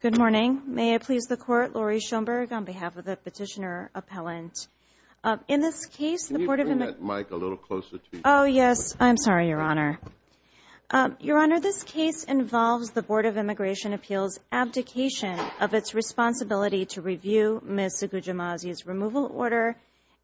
Good morning. May I please the Court, Laurie Schoenberg on behalf of the Petitioner Appellant. In this case, the Board of… Can you bring that mic a little closer to you? Oh, yes. I'm sorry, Your Honor. Your Honor, this case involves the Board of Immigration Appeals' abdication of its responsibility to review Ms. Suguja Mazzi's removal order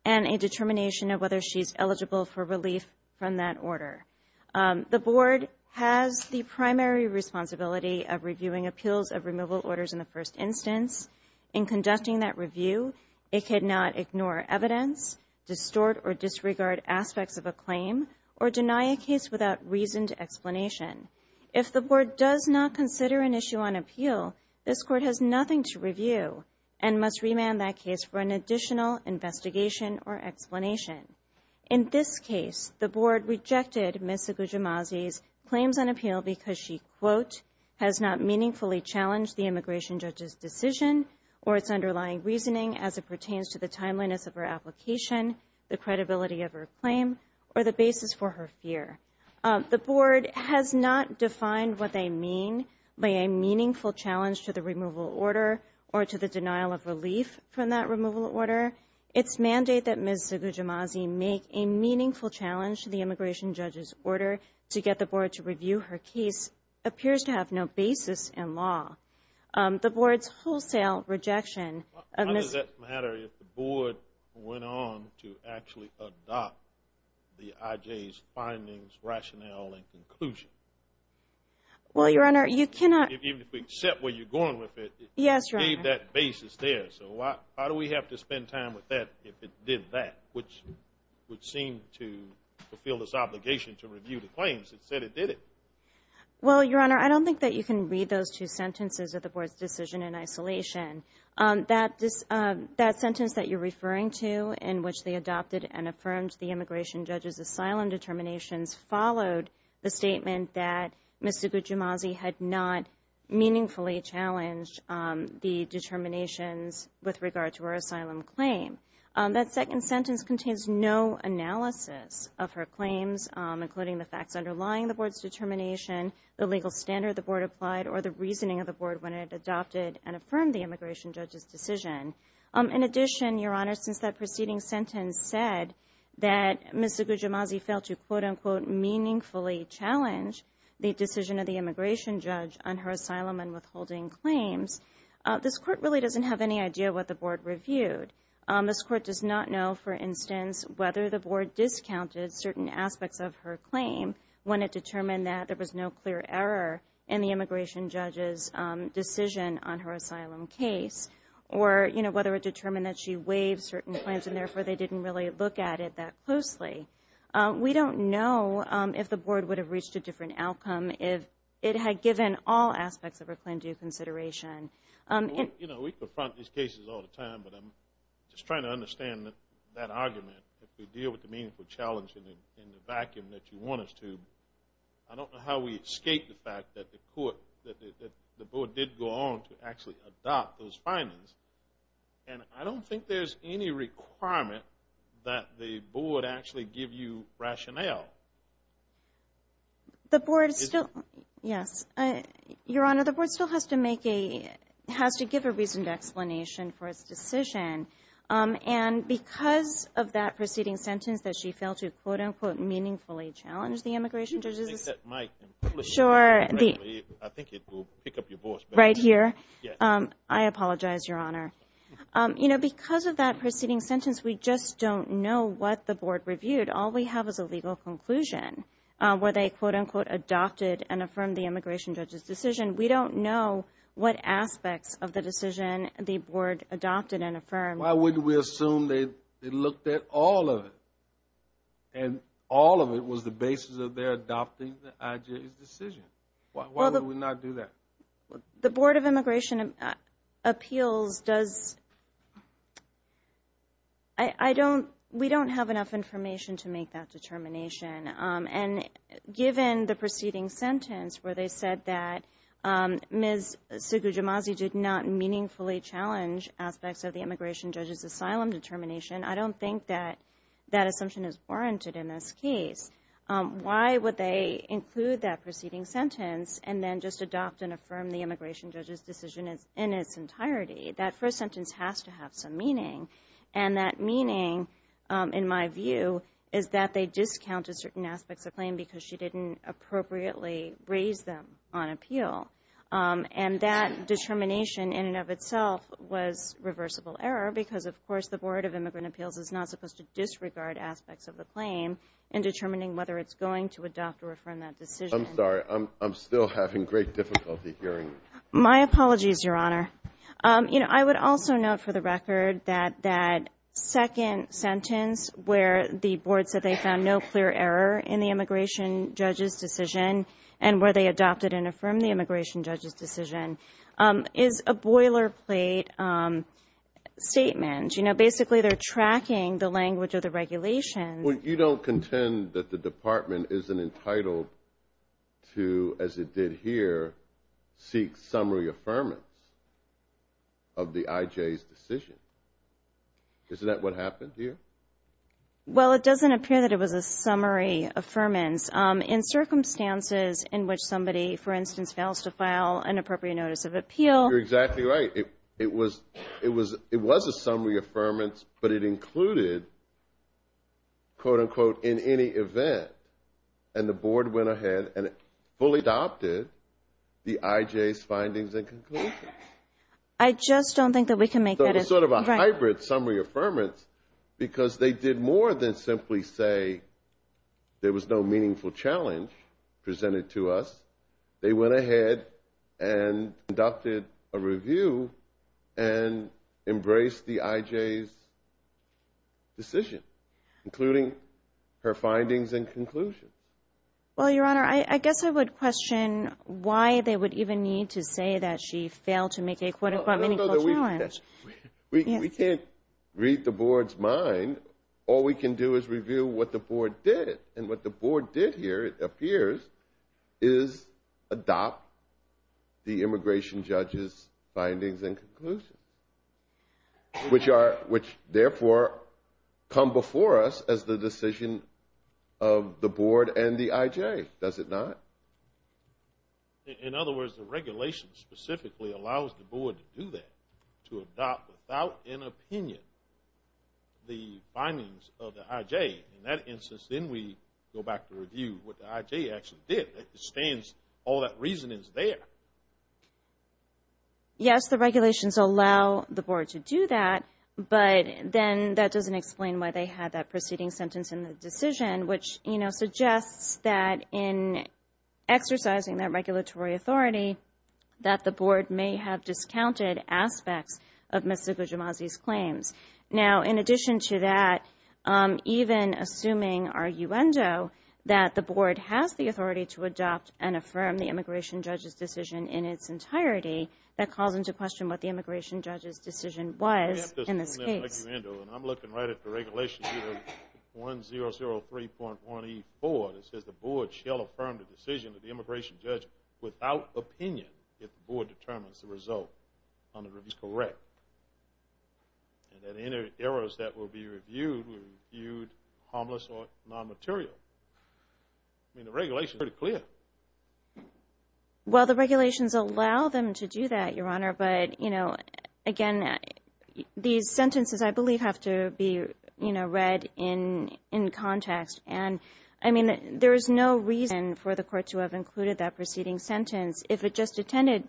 and a determination of whether she's eligible for relief from that order. The Board has expressed the primary responsibility of reviewing appeals of removal orders in the first instance. In conducting that review, it cannot ignore evidence, distort or disregard aspects of a claim, or deny a case without reasoned explanation. If the Board does not consider an issue on appeal, this Court has nothing to review and must remand that case for an additional investigation or explanation. In this case, the Board rejected Ms. Suguja Mazzi's claims on appeal because she, quote, has not meaningfully challenged the immigration judge's decision or its underlying reasoning as it pertains to the timeliness of her application, the credibility of her claim, or the basis for her fear. The Board has not defined what they mean by a meaningful challenge to the removal order or to the denial of relief from that removal order. Its mandate that Ms. Suguja Mazzi make a meaningful challenge to the immigration judge's order to get the Board to review her case appears to have no basis in law. The Board's wholesale rejection of Ms. Suguja Mazzi's removal order and a determination of whether she's eligible for relief from that order is not in line with the Board's rationale and conclusion. Well, Your Honor, you cannot... Even if we accept where you're going with it, it gave that basis there, so why do we have to spend time with that if it did that, which would seem to fulfill this obligation to review the claims that said it did it? Well, Your Honor, I don't think that you can read those two sentences of the Board's decision in isolation. That sentence that you're referring to, in which they adopted and affirmed the immigration judge's asylum determinations, followed the statement that Ms. Suguja Mazzi had not meaningfully challenged the determinations with regard to her asylum claim. That second sentence contains no analysis of her claims, including the facts underlying the Board's determination, the legal standard the Board applied, or the reasoning of the Board when it adopted and affirmed the immigration judge's decision. In addition, Your Honor, since that preceding sentence said that Ms. Suguja Mazzi failed to quote-unquote meaningfully challenge the decision of the immigration judge on her asylum and withholding claims, this Court really doesn't have any idea what the Board reviewed. This Court does not know, for instance, whether the Board discounted certain aspects of her claim when it determined that there was no clear error in the immigration judge's decision on her asylum case, or whether it determined that she waived certain claims and therefore they didn't really look at it that closely. We don't know if the Board would have reached a different outcome if it had given all aspects of her claim due consideration. You know, we confront these cases all the time, but I'm just trying to understand that argument. If we deal with the meaningful challenge in the vacuum that you want us to, I don't know how we escape the fact that the Court, that the Board did go on to actually adopt those findings, and I don't think there's any requirement that the Board actually give you rationale. The Board still, yes, Your Honor, the Board still has to make a, has to give a reasoned explanation for its decision, and because of that preceding sentence that she failed to quote-unquote meaningfully challenge the immigration judge's decision... Do you think that might... Sure. I think it will pick up your voice better. Right here? Yes. I apologize, Your Honor. You know, because of that preceding sentence, we just don't know what the Board reviewed. All we have is a legal conclusion where they quote-unquote adopted and affirmed the immigration judge's decision. We don't know what aspects of the decision the Board adopted and affirmed. Why wouldn't we assume they looked at all of it, and all of it was the basis of their adopting the IJA's decision? Why would we not do that? The Board of Immigration Appeals does, I don't, we don't have enough information to make that determination, and given the preceding sentence where they said that Ms. Sugujimazi did not meaningfully challenge aspects of the immigration judge's asylum determination, I don't think that that assumption is warranted in this case. Why would they include that preceding sentence and then just adopt and affirm the immigration judge's decision in its entirety? That first sentence has to have some meaning, and that meaning, in my view, is that they discounted certain aspects of the claim because she didn't appropriately raise them on appeal. And that determination, in and of itself, was reversible error because, of course, the Board of Immigrant Appeals is not supposed to disregard aspects of the claim in determining whether it's going to adopt or affirm that decision. I'm sorry. I'm still having great difficulty hearing you. My apologies, Your Honor. You know, I would also note for the record that that second sentence where the Board said they found no clear error in the immigration judge's decision and where they adopted and affirmed the immigration judge's decision is a boilerplate statement. You know, basically, they're tracking the language of the regulations. Well, you don't contend that the Department isn't entitled to, as it did here, seek summary affirmance of the IJ's decision. Isn't that what happened here? Well, it doesn't appear that it was a summary affirmance. In circumstances in which somebody, for instance, fails to file an appropriate notice of appeal You're exactly right. It was a summary affirmance, but it included, quote, unquote, in any event. And the Board went ahead and fully adopted the IJ's findings and conclusions. I just don't think that we can make that. It was sort of a hybrid summary affirmance because they did more than simply say there was no meaningful challenge presented to us. They went ahead and conducted a review and embraced the IJ's decision, including her findings and conclusions. Well, Your Honor, I guess I would question why they would even need to say that she failed to make a quote, unquote, meaningful challenge. We can't read the Board's mind. All we can do is review what the Board did. And what the Board did here, it appears, is adopt the immigration judge's findings and conclusions, which therefore come before us as the decision of the Board and the IJ. Does it not? In other words, the regulation specifically allows the Board to do that, to adopt, without an opinion, the findings of the IJ. In that instance, then we go back to review what the IJ actually did. All that reasoning is there. Yes, the regulations allow the Board to do that, but then that doesn't explain why they had that preceding sentence in the decision, which, you know, suggests that in exercising that regulatory authority, that the Board may have discounted aspects of Ms. Zagujimazi's claims. Now, in addition to that, even assuming arguendo, that the Board has the authority to adopt and affirm the immigration judge's decision in its entirety, that calls into question what the immigration judge's decision was in this case. I'm looking right at the regulation here, 1003.1E4, that says the Board shall affirm the decision of the immigration judge without opinion if the Board determines the result on the review is correct, and that any errors that will be reviewed will be reviewed harmless or non-material. I mean, the regulation is pretty clear. Well, the regulations allow them to do that, Your Honor, but, you know, again, these sentences, I believe, have to be, you know, read in context. And, I mean, there is no reason for the Court to have included that preceding sentence if it just intended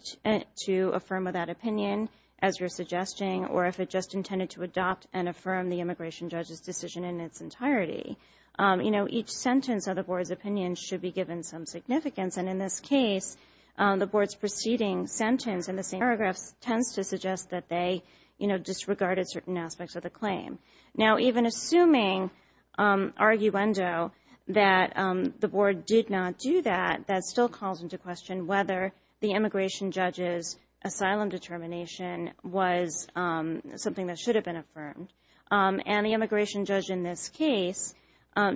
to affirm without opinion, as you're suggesting, or if it just intended to adopt and affirm the immigration judge's decision in its entirety. You know, each sentence of the Board's opinion should be given some significance, and in this case, the Board's preceding sentence in the same paragraphs tends to suggest that they, you know, disregarded certain aspects of the claim. Now, even assuming arguendo, that the Board did not do that, that still calls into question whether the immigration judge's asylum determination was something that should have been affirmed. And the immigration judge in this case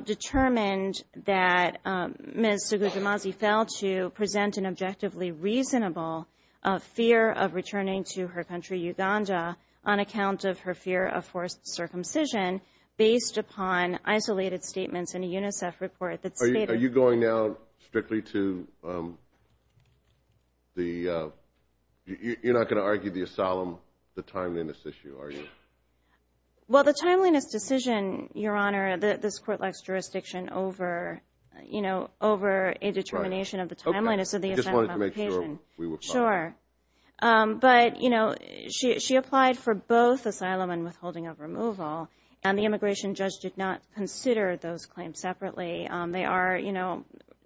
determined that Ms. Suguzi-Mazi failed to present an objectively reasonable fear of returning to her country, Uganda, on account of her fear of forced circumcision based upon isolated statements in a UNICEF report that stated... Are you going now strictly to the... you're not going to argue the asylum, the timeliness issue, are you? Well, the timeliness decision, Your Honor, this Court likes jurisdiction over, you know, over a determination of the timeliness of the asylum application. Okay. I just wanted to make sure we were clear. Sure. But, you know, she applied for both asylum and withholding of removal, and the immigration judge did not consider those claims separately. They are, you know,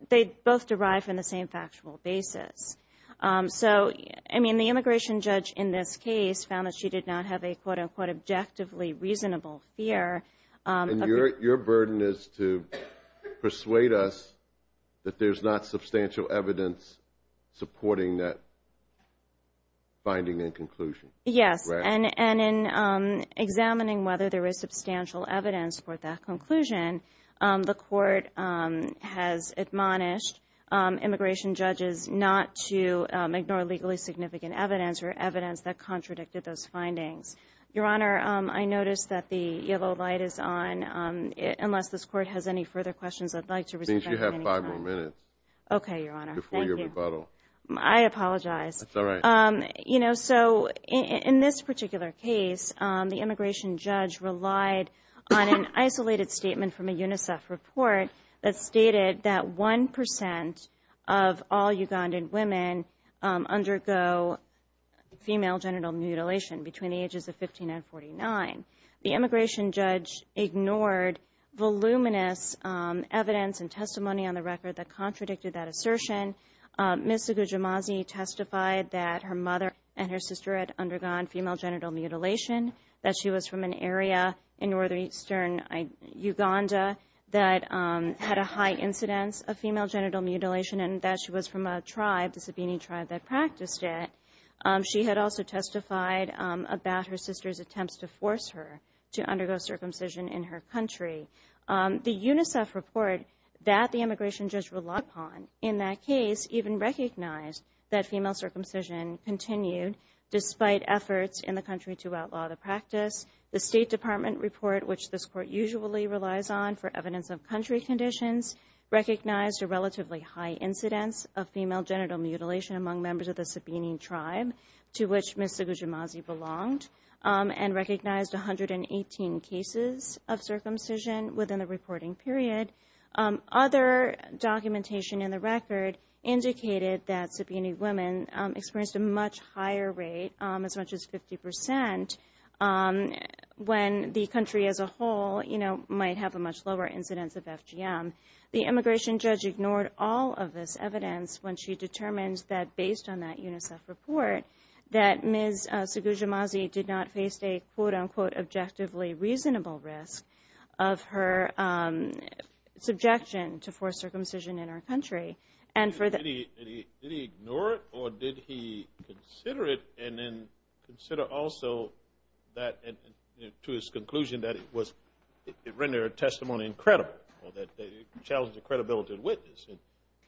they both derive from the same factual basis. So, I mean, the immigration judge in this case found that she did not have a, quote-unquote, an objectively reasonable fear of... And your burden is to persuade us that there's not substantial evidence supporting that finding and conclusion. Yes. And in examining whether there is substantial evidence for that conclusion, the Court has admonished immigration judges not to ignore legally significant evidence or evidence that contradicted those findings. Your Honor, I noticed that the yellow light is on. Unless this Court has any further questions, I'd like to resume... Since you have five more minutes. Okay, Your Honor. Thank you. Before your rebuttal. I apologize. That's all right. You know, so in this particular case, the immigration judge relied on an isolated statement from a UNICEF report that stated that 1% of all Ugandan women undergo female genital mutilation between the ages of 15 and 49. The immigration judge ignored voluminous evidence and testimony on the record that contradicted that assertion. Ms. Sugujimazi testified that her mother and her sister had undergone female genital mutilation, that she was from an area in northeastern Uganda that had a high incidence of female genital mutilation, and that she was from a tribe, the Sabini tribe, that practiced it. She had also testified about her sister's attempts to force her to undergo circumcision in her country. The UNICEF report that the immigration judge relied upon in that case even recognized that female circumcision continued despite efforts in the country to outlaw the practice. The State Department report, which this Court usually relies on for evidence of country conditions, recognized a relatively high incidence of female genital mutilation among members of the Sabini tribe, to which Ms. Sugujimazi belonged, and recognized 118 cases of circumcision within the reporting period. Other documentation in the record indicated that Sabini women experienced a much higher rate, as much as 50%, when the country as a whole might have a much lower incidence of FGM. The immigration judge ignored all of this evidence when she determined that, based on that UNICEF report, that Ms. Sugujimazi did not face a, quote-unquote, objectively reasonable risk of her subjection to forced circumcision in her country. Did he ignore it, or did he consider it, and then consider also that, to his conclusion, that it rendered her testimony incredible, or that it challenged the credibility of the witness?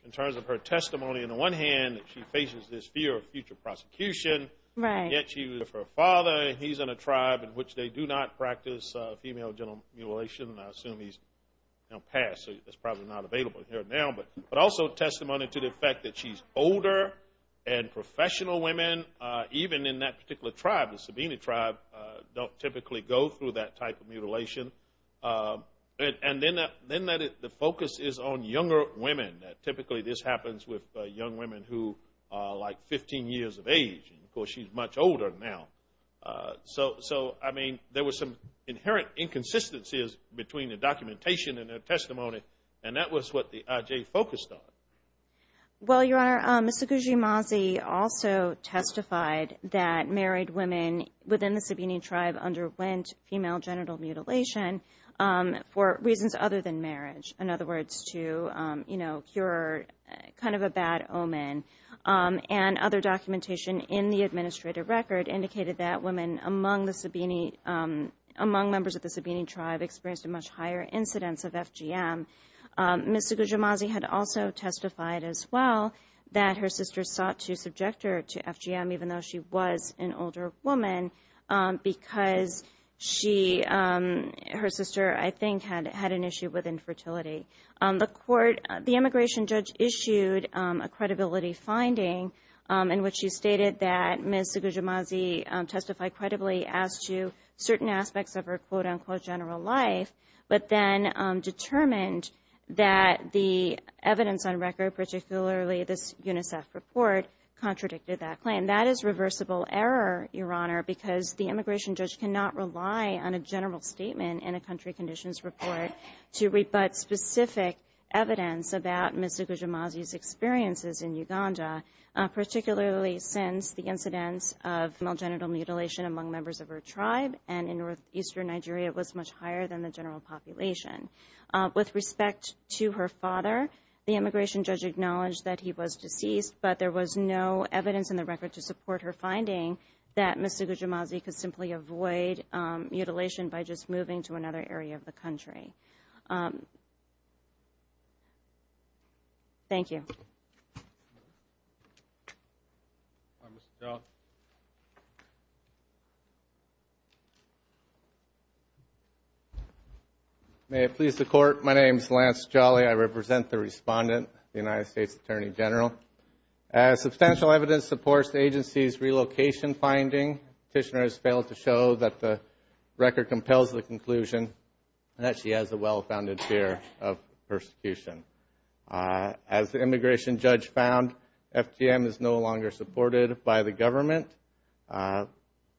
In terms of her testimony, on the one hand, she faces this fear of future prosecution. Yet she was her father, and he's in a tribe in which they do not practice female genital mutilation. I assume he's passed, so that's probably not available here now. But also testimony to the fact that she's older and professional women, even in that particular tribe, the Sabini tribe, don't typically go through that type of mutilation. And then the focus is on younger women. Typically this happens with young women who are, like, 15 years of age. Of course, she's much older now. So, I mean, there were some inherent inconsistencies between the documentation and her testimony, and that was what the IJ focused on. Well, Your Honor, Ms. Suguji-Mazi also testified that married women within the Sabini tribe underwent female genital mutilation for reasons other than marriage. In other words, to, you know, cure kind of a bad omen. And other documentation in the administrative record indicated that women among the Sabini, among members of the Sabini tribe experienced a much higher incidence of FGM. Ms. Suguji-Mazi had also testified as well that her sister sought to subject her to FGM, even though she was an older woman, because she, her sister, I think, had an issue with infertility. The immigration judge issued a credibility finding in which she stated that Ms. Suguji-Mazi testified credibly as to certain aspects of her quote-unquote general life, but then determined that the evidence on record, particularly this UNICEF report, contradicted that claim. That is reversible error, Your Honor, because the immigration judge cannot rely on a general statement in a country conditions report to rebut specific evidence about Ms. Suguji-Mazi's experiences in Uganda, particularly since the incidence of female genital mutilation among members of her tribe. And in northeastern Nigeria, it was much higher than the general population. With respect to her father, the immigration judge acknowledged that he was deceased, but there was no evidence in the record to support her finding that Ms. Suguji-Mazi could simply avoid mutilation Thank you. May it please the Court, my name is Lance Jolly. I represent the respondent, the United States Attorney General. As substantial evidence supports the agency's relocation finding, Petitioner has failed to show that the record compels the conclusion that she has a well-founded fear of persecution. As the immigration judge found, FGM is no longer supported by the government.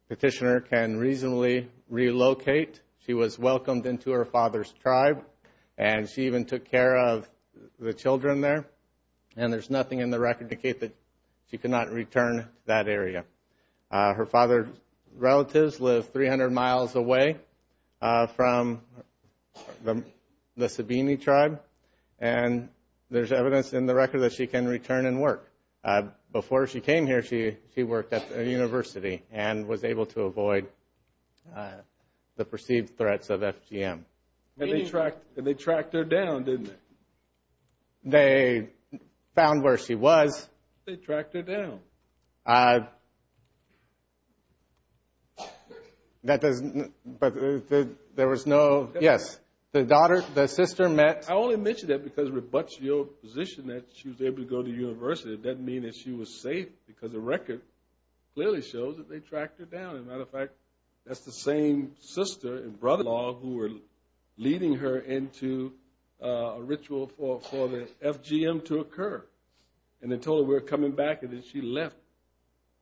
Petitioner can reasonably relocate. She was welcomed into her father's tribe, and she even took care of the children there, and there's nothing in the record to indicate that she could not return to that area. Her father's relatives live 300 miles away from the Sabini tribe, and there's evidence in the record that she can return and work. Before she came here, she worked at a university and was able to avoid the perceived threats of FGM. And they tracked her down, didn't they? They found where she was. They tracked her down. That doesn't, but there was no, yes. The daughter, the sister met. I only mention that because it rebuts your position that she was able to go to university. It doesn't mean that she was safe, because the record clearly shows that they tracked her down. As a matter of fact, that's the same sister and brother-in-law who were leading her into a ritual for the FGM to occur. And they told her we were coming back, and then she left,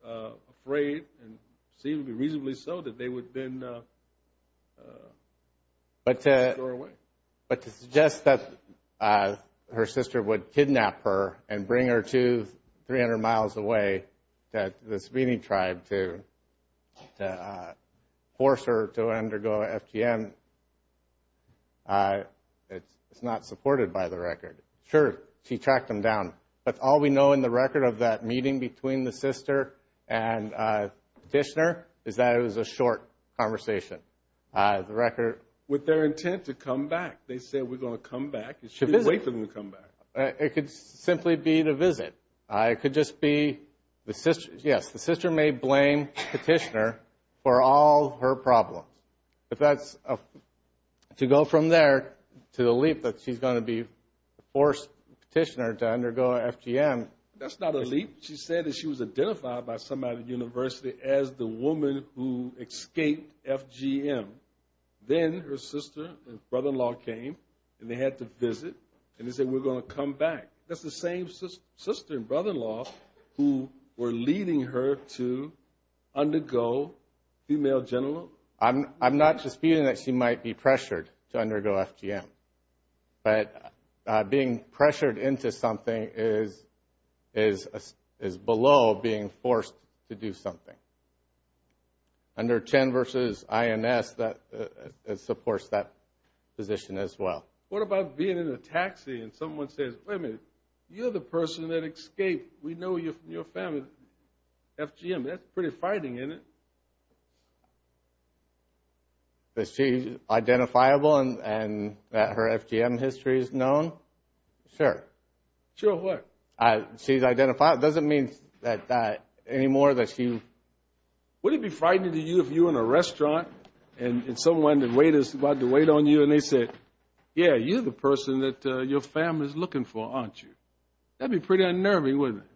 afraid, and reasonably so, that they would then throw her away. But to suggest that her sister would kidnap her and bring her to 300 miles away, that the Sabini tribe to force her to undergo FGM, it's not supported by the record. Sure, she tracked them down. But all we know in the record of that meeting between the sister and petitioner is that it was a short conversation. With their intent to come back. They said, we're going to come back. It shouldn't be a wait for them to come back. It could simply be the visit. It could just be, yes, the sister may blame the petitioner for all her problems. If that's, to go from there to the leap that she's going to be forced, petitioner, to undergo FGM. That's not a leap. She said that she was identified by somebody at the university as the woman who escaped FGM. Then her sister and brother-in-law came, and they had to visit, and they said, we're going to come back. That's the same sister and brother-in-law who were leading her to undergo female genital mutilation. I'm not just feeling that she might be pressured to undergo FGM. But being pressured into something is below being forced to do something. Under Chen versus INS, it supports that position as well. What about being in a taxi and someone says, wait a minute, you're the person that escaped. We know you're from your family. FGM, that's pretty fighting, isn't it? That she's identifiable and that her FGM history is known? Sure. Sure what? She's identifiable. It doesn't mean that anymore that she... Wouldn't it be frightening to you if you were in a restaurant and someone, the waiter's about to wait on you, and they said, yeah, you're the person that your family's looking for, aren't you? That'd be pretty unnerving, wouldn't it?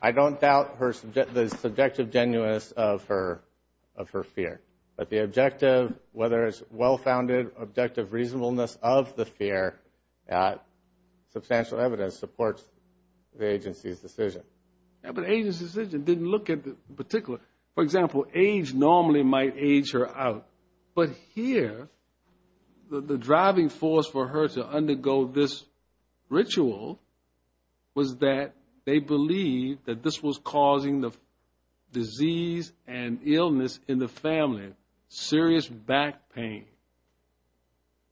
I don't doubt the subjective genuineness of her fear. But the objective, whether it's well-founded, objective reasonableness of the fear, substantial evidence supports the agency's decision. But the agency's decision didn't look at the particular. For example, age normally might age her out. But here, the driving force for her to undergo this ritual was that they believed that this was causing the disease and illness in the family, serious back pain.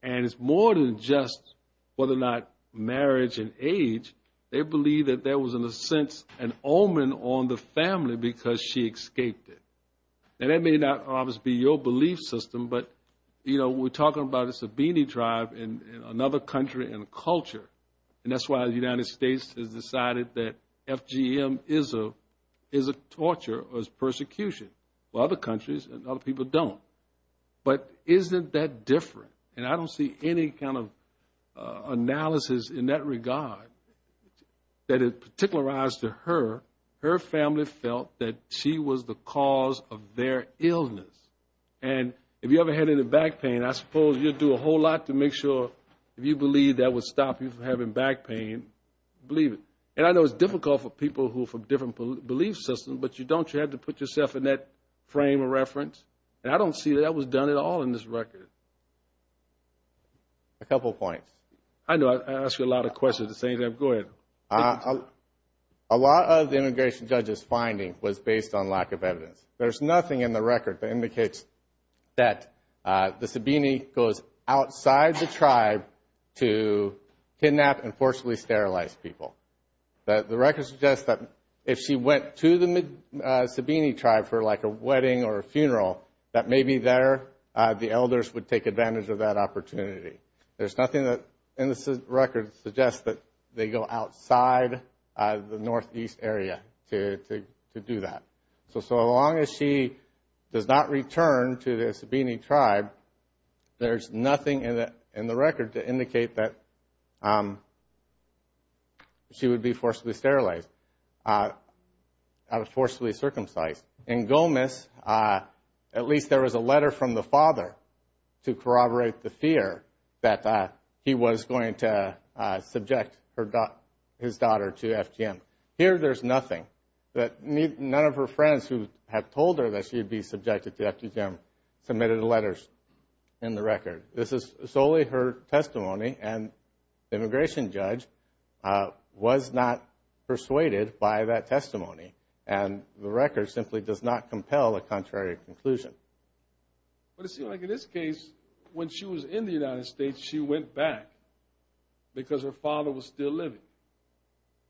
And it's more than just whether or not marriage and age. They believed that there was, in a sense, an omen on the family because she escaped it. And that may not always be your belief system, but, you know, we're talking about a Sabini tribe and another country and a culture. And that's why the United States has decided that FGM is a torture or is persecution. While other countries and other people don't. But isn't that different? And I don't see any kind of analysis in that regard that is particularized to her. Her family felt that she was the cause of their illness. And if you ever had any back pain, I suppose you'd do a whole lot to make sure, if you believe that would stop you from having back pain, believe it. And I know it's difficult for people who are from different belief systems, but you don't have to put yourself in that frame of reference. And I don't see that was done at all in this record. A couple points. I know I ask you a lot of questions at the same time. Go ahead. A lot of the immigration judge's finding was based on lack of evidence. There's nothing in the record that indicates that the Sabini goes outside the tribe to kidnap and forcibly sterilize people. The record suggests that if she went to the Sabini tribe for like a wedding or a funeral, that maybe there the elders would take advantage of that opportunity. There's nothing in this record that suggests that they go outside the northeast area to do that. So as long as she does not return to the Sabini tribe, there's nothing in the record to indicate that she would be forcibly sterilized or forcibly circumcised. In Gomez, at least there was a letter from the father to corroborate the fear that he was going to subject his daughter to FGM. Here there's nothing. None of her friends who have told her that she would be subjected to FGM submitted letters in the record. This is solely her testimony, and the immigration judge was not persuaded by that testimony. And the record simply does not compel a contrary conclusion. But it seems like in this case, when she was in the United States, she went back because her father was still living,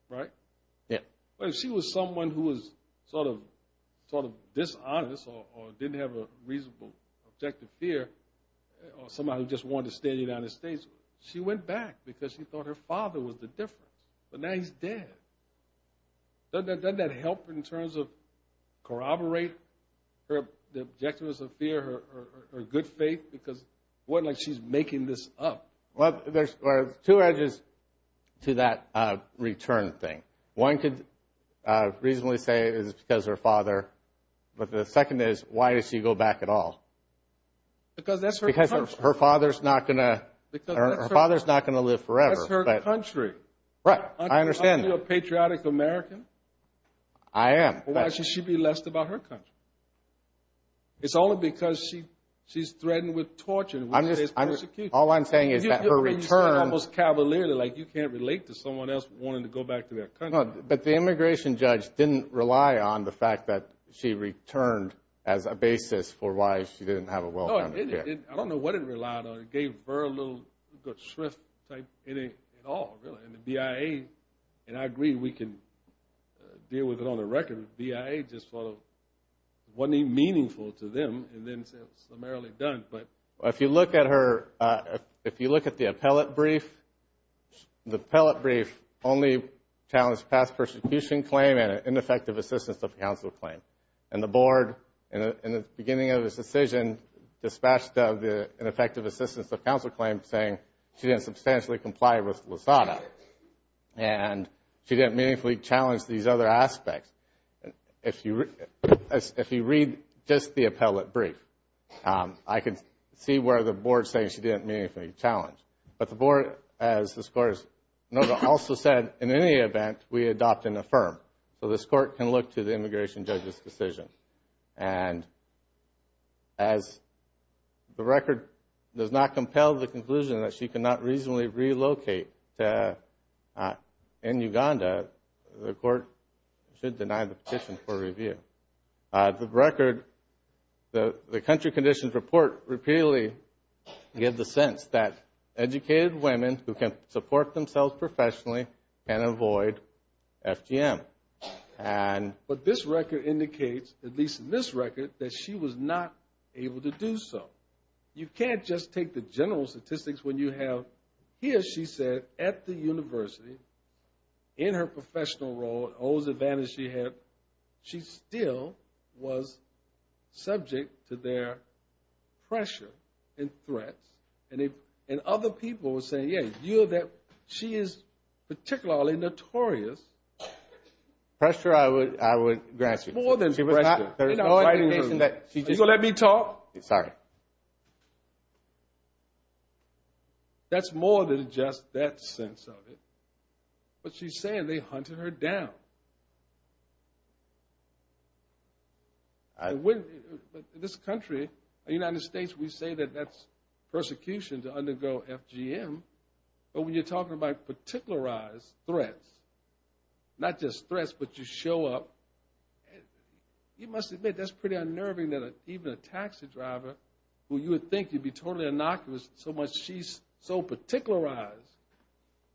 right? Yeah. But if she was someone who was sort of dishonest or didn't have a reasonable objective fear, or somebody who just wanted to stay in the United States, she went back because she thought her father was the difference. But now he's dead. Doesn't that help in terms of corroborate her objectives of fear, her good faith? Because it wasn't like she's making this up. Well, there's two edges to that return thing. One could reasonably say it was because her father, but the second is, why does she go back at all? Because that's her country. Because her father's not going to live forever. That's her country. Right. I understand that. Aren't you a patriotic American? I am. Well, actually, she'd be less about her country. It's only because she's threatened with torture. All I'm saying is that her return. You're being almost cavalier. You can't relate to someone else wanting to go back to their country. But the immigration judge didn't rely on the fact that she returned as a basis for why she didn't have a well-founded fear. I don't know what it relied on. It gave her a little good shrift type in it at all, really. And the BIA, and I agree, we can deal with it on the record. The BIA just wasn't even meaningful to them, and then it's primarily done. If you look at her, if you look at the appellate brief, the appellate brief only challenged past persecution claim and ineffective assistance of counsel claim. And the board, in the beginning of this decision, dispatched an effective assistance of counsel claim saying she didn't substantially comply with LASADA, and she didn't meaningfully challenge these other aspects. If you read just the appellate brief, I can see where the board is saying she didn't meaningfully challenge. But the board, as the scores noted, also said, in any event, we adopt and affirm. So this court can look to the immigration judge's decision. And as the record does not compel the conclusion that she cannot reasonably relocate in Uganda, the court should deny the petition for review. The record, the country conditions report repeatedly give the sense that educated women who can support themselves professionally can avoid FGM. But this record indicates, at least in this record, that she was not able to do so. You can't just take the general statistics when you have, here she said at the university, in her professional role, all those advantages she had, she still was subject to their pressure and threats. And other people were saying, yeah, she is particularly notorious. Pressure I would grasp. More than pressure. She was not threatening her. You going to let me talk? Sorry. That's more than just that sense of it. What she's saying, they hunted her down. In this country, the United States, we say that that's persecution to undergo FGM. But when you're talking about particularized threats, not just threats but you show up, you must admit that's pretty unnerving that even a taxi driver, who you would think you'd be totally innocuous, so much she's so particularized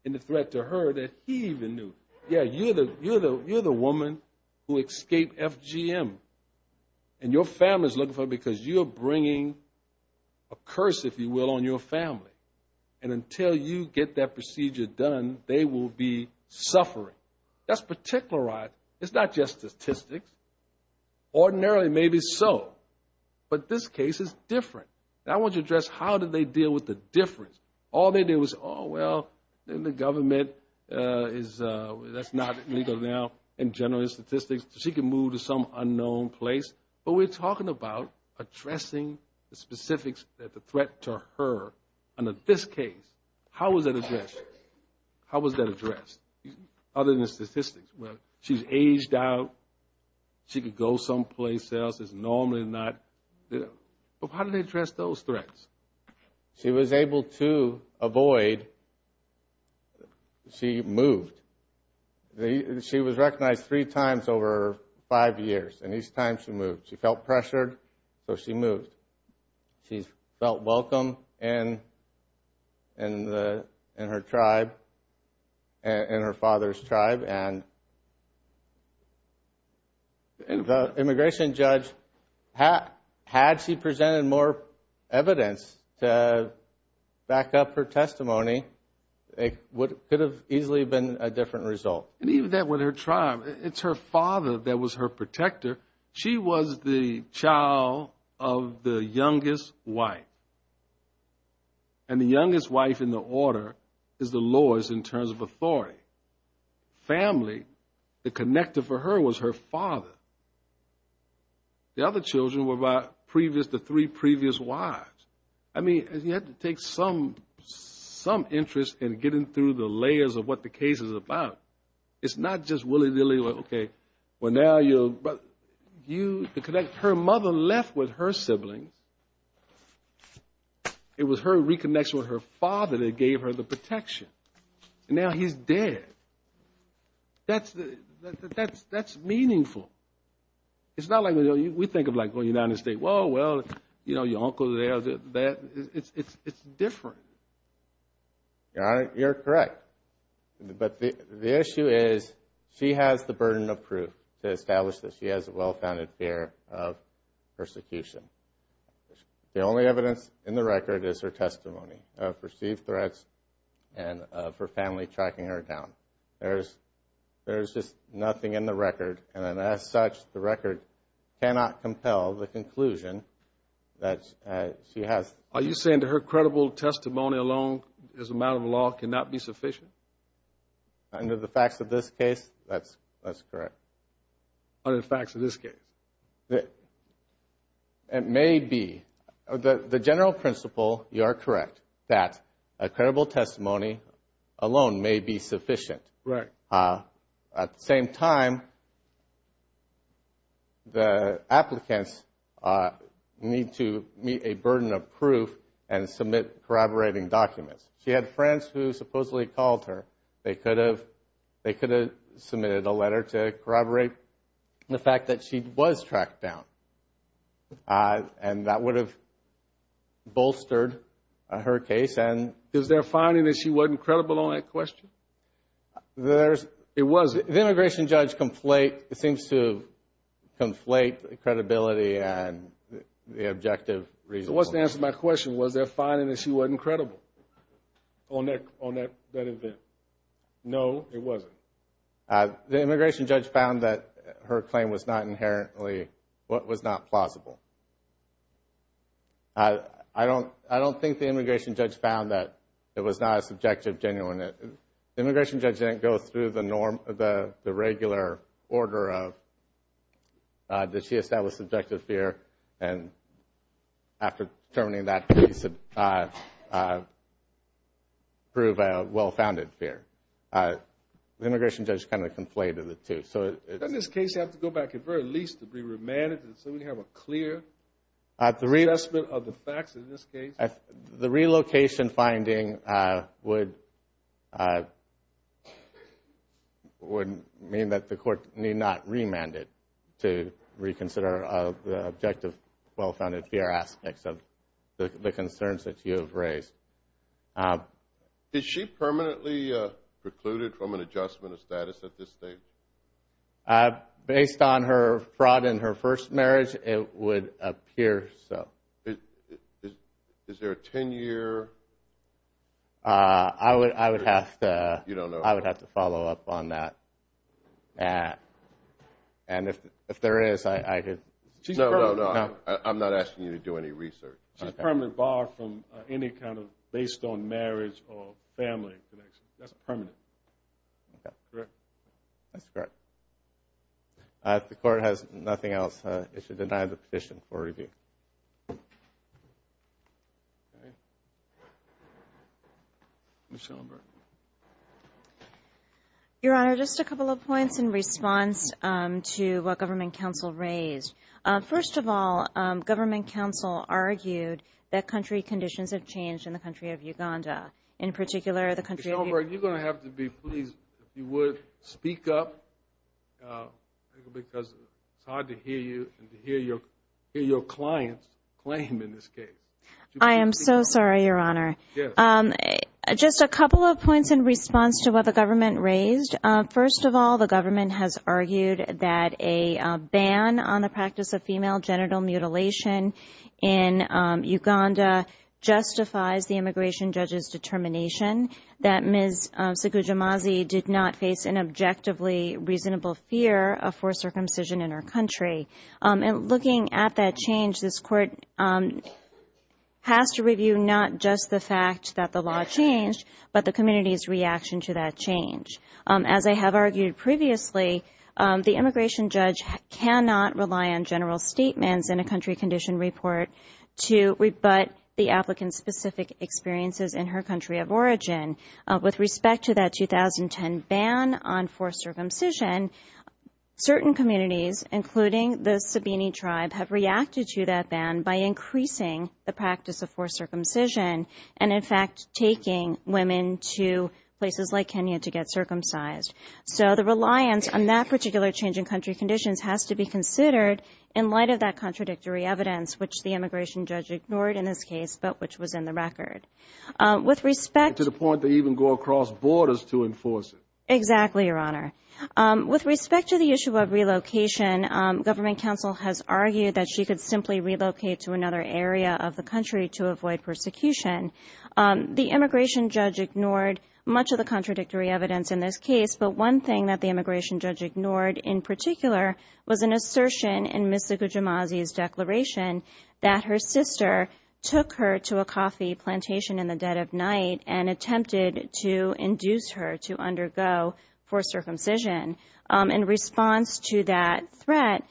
in the threat to her that he even knew. Yeah, you're the woman who escaped FGM. And your family is looking for her because you're bringing a curse, if you will, on your family. And until you get that procedure done, they will be suffering. That's particularized. It's not just statistics. Ordinarily, maybe so. But this case is different. And I want to address how did they deal with the difference. All they did was, oh, well, the government is, that's not legal now in general statistics. So she could move to some unknown place. But we're talking about addressing the specifics of the threat to her. And in this case, how was that addressed? How was that addressed? Other than the statistics. Well, she's aged out. She could go someplace else that's normally not. But how did they address those threats? She was able to avoid. She moved. She was recognized three times over five years. And each time she moved. She felt pressured, so she moved. She felt welcome in her tribe, in her father's tribe. And the immigration judge, had she presented more evidence to back up her testimony, it could have easily been a different result. And even that with her tribe, it's her father that was her protector. She was the child of the youngest wife. And the youngest wife in the order is the lowest in terms of authority. Family, the connector for her was her father. The other children were the three previous wives. I mean, you have to take some interest in getting through the layers of what the case is about. It's not just willy-nilly, okay, well now you'll, but her mother left with her siblings. It was her reconnection with her father that gave her the protection. And now he's dead. That's meaningful. It's not like we think of like going down to the state, well, you know, your uncle's there. It's different. Your Honor, you're correct. But the issue is she has the burden of proof to establish that she has a well-founded fear of persecution. The only evidence in the record is her testimony of perceived threats and of There's just nothing in the record. And as such, the record cannot compel the conclusion that she has. Are you saying that her credible testimony alone as a matter of law cannot be sufficient? Under the facts of this case, that's correct. Under the facts of this case. It may be. The general principle, you are correct, that a credible testimony alone may be sufficient. Right. At the same time, the applicants need to meet a burden of proof and submit corroborating documents. She had friends who supposedly called her. They could have submitted a letter to corroborate the fact that she was tracked down. And that would have bolstered her case. Is there a finding that she wasn't credible on that question? It was. The immigration judge seems to conflate credibility and the objective reasoning. It wasn't answered my question. Was there a finding that she wasn't credible on that event? No, it wasn't. The immigration judge found that her claim was not inherently plausible. I don't think the immigration judge found that it was not a subjective genuine. The immigration judge didn't go through the norm, the regular order of that she established subjective fear. And after determining that piece, prove a well-founded fear. The immigration judge kind of conflated the two. In this case, you have to go back at the very least to be remanded so we have a clear assessment of the facts in this case. The relocation finding would mean that the court need not remand it to reconsider the objective well-founded fear aspects of the concerns that you have raised. Is she permanently precluded from an adjustment of status at this stage? Based on her fraud in her first marriage, it would appear so. Is there a 10-year? I would have to follow up on that. And if there is, I could. No, I'm not asking you to do any research. She's permanently barred from any kind of based on marriage or family connection. That's permanent. Correct. That's correct. If the court has nothing else, it should deny the petition for review. Ms. Schellenberg. Your Honor, just a couple of points in response to what Government Counsel raised. First of all, Government Counsel argued that country conditions have changed in the country of Uganda. Ms. Schellenberg, you're going to have to be pleased if you would speak up because it's hard to hear you and to hear your client's claim in this case. I am so sorry, Your Honor. Just a couple of points in response to what the Government raised. First of all, the Government has argued that a ban on the practice of female immigration judges' determination, that Ms. Sugujimazi did not face an objectively reasonable fear of forced circumcision in her country. And looking at that change, this Court has to review not just the fact that the law changed, but the community's reaction to that change. As I have argued previously, the immigration judge cannot rely on general statements in a country condition report to rebut the applicant's specific experiences in her country of origin. With respect to that 2010 ban on forced circumcision, certain communities, including the Sabini tribe, have reacted to that ban by increasing the practice of forced circumcision and, in fact, taking women to places like Kenya to get circumcised. So the reliance on that particular change in country conditions has to be considered in light of that contradictory evidence, which the immigration judge ignored in this case, but which was in the record. To the point to even go across borders to enforce it. Exactly, Your Honor. With respect to the issue of relocation, Government counsel has argued that she could simply relocate to another area of the country to avoid persecution. The immigration judge ignored much of the contradictory evidence in this case, but one thing that the immigration judge ignored in particular was an assertion in Ms. Sugujimazi's declaration that her sister took her to a coffee plantation in the dead of night and attempted to induce her to undergo forced circumcision. In response to that threat,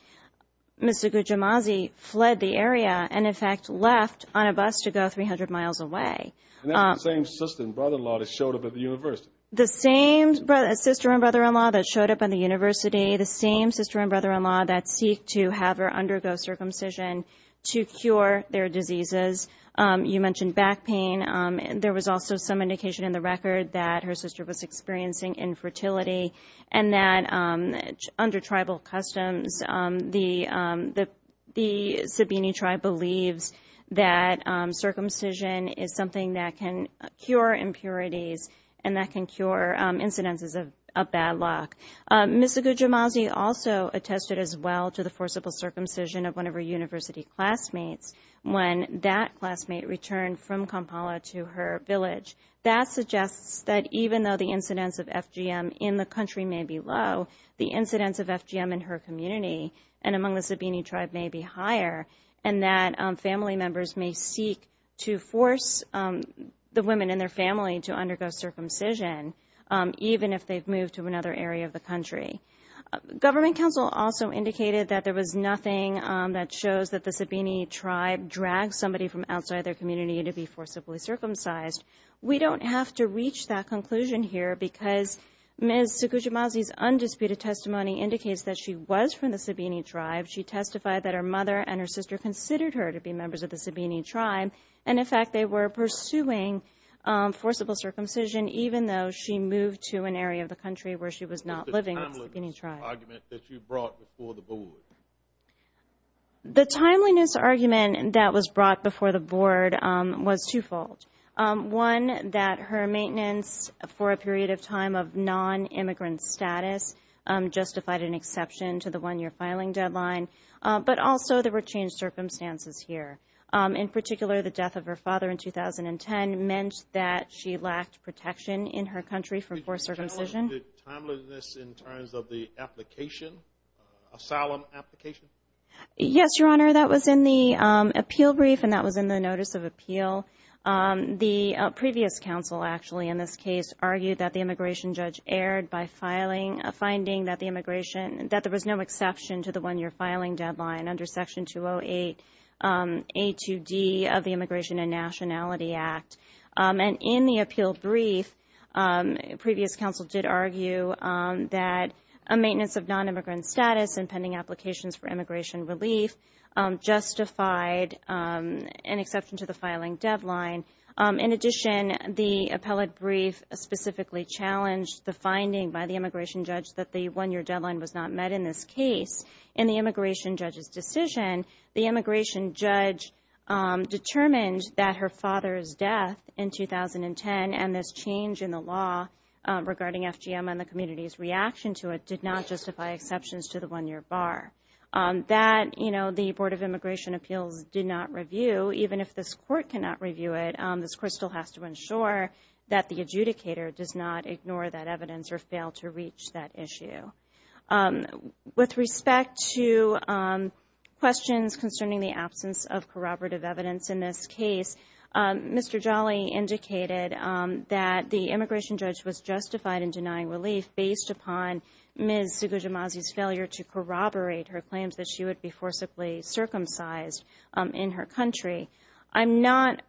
Ms. Sugujimazi fled the area and, in fact, left on a bus to go 300 miles away. And that's the same sister and brother-in-law that showed up at the university. The same sister and brother-in-law that showed up at the university, the same sister and brother-in-law that seek to have her undergo circumcision to cure their diseases. You mentioned back pain. There was also some indication in the record that her sister was experiencing infertility and that, under tribal customs, the Sabini tribe believes that circumcision is something that can cure impurities and that can cure incidences of bad luck. Ms. Sugujimazi also attested as well to the forcible circumcision of one of her university classmates when that classmate returned from Kampala to her village. That suggests that even though the incidence of FGM in the country may be low, the incidence of FGM in her community and among the Sabini tribe may be higher and that family members may seek to force the women in their family to undergo Government counsel also indicated that there was nothing that shows that the Sabini tribe dragged somebody from outside their community to be forcibly circumcised. We don't have to reach that conclusion here because Ms. Sugujimazi's undisputed testimony indicates that she was from the Sabini tribe. She testified that her mother and her sister considered her to be members of the Sabini tribe, and, in fact, they were pursuing forcible circumcision even though she moved to an area of the country where she was not living with the Sabini tribe. What was the timeliness argument that you brought before the board? The timeliness argument that was brought before the board was twofold. One, that her maintenance for a period of time of non-immigrant status justified an exception to the one-year filing deadline, but also there were changed circumstances here. In particular, the death of her father in 2010 meant that she lacked protection in her country from forced circumcision. Did you generalize the timeliness in terms of the application, asylum application? Yes, Your Honor. That was in the appeal brief and that was in the notice of appeal. The previous counsel actually in this case argued that the immigration judge erred by finding that there was no exception to the one-year filing deadline under Section 208A2D of the Immigration and Nationality Act. In the appeal brief, previous counsel did argue that a maintenance of non-immigrant status and pending applications for immigration relief justified an exception to the filing deadline. In addition, the appellate brief specifically challenged the finding by the immigration judge that the one-year deadline was not met in this case, and the immigration judge's decision, the immigration judge determined that her father's death in 2010 and this change in the law regarding FGM and the community's reaction to it did not justify exceptions to the one-year bar. That, you know, the Board of Immigration Appeals did not review, even if this court cannot review it. This court still has to ensure that the adjudicator does not ignore that evidence or fail to reach that issue. With respect to questions concerning the absence of corroborative evidence in this case, Mr. Jolly indicated that the immigration judge was justified in denying relief based upon Ms. Segujimazi's failure to corroborate her claims that she would be forcibly circumcised in her country. I'm not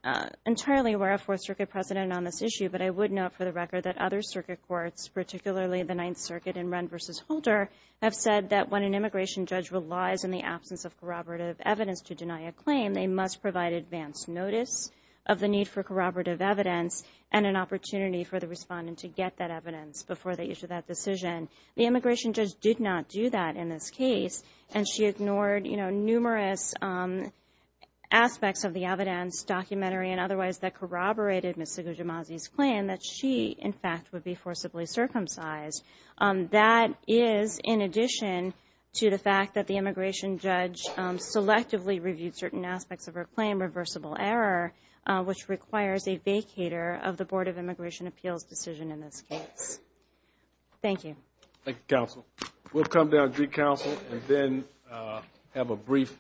entirely aware of Fourth Circuit precedent on this issue, but I would note for the record that other circuit courts, particularly the Ninth Circuit and Wren v. Holder, have said that when an immigration judge relies on the absence of corroborative evidence to deny a claim, they must provide advance notice of the need for corroborative evidence and an opportunity for the respondent to get that evidence before they issue that decision. The immigration judge did not do that in this case, and she ignored, you know, numerous aspects of the evidence, documentary and otherwise, that corroborated Ms. Segujimazi's claim that she, in fact, would be forcibly circumcised. That is in addition to the fact that the immigration judge selectively reviewed certain aspects of her claim, reversible error, which requires a vacater of the Board of Immigration Appeals decision in this case. Thank you. Thank you, counsel. We'll come down to you, counsel, and then have a brief recess.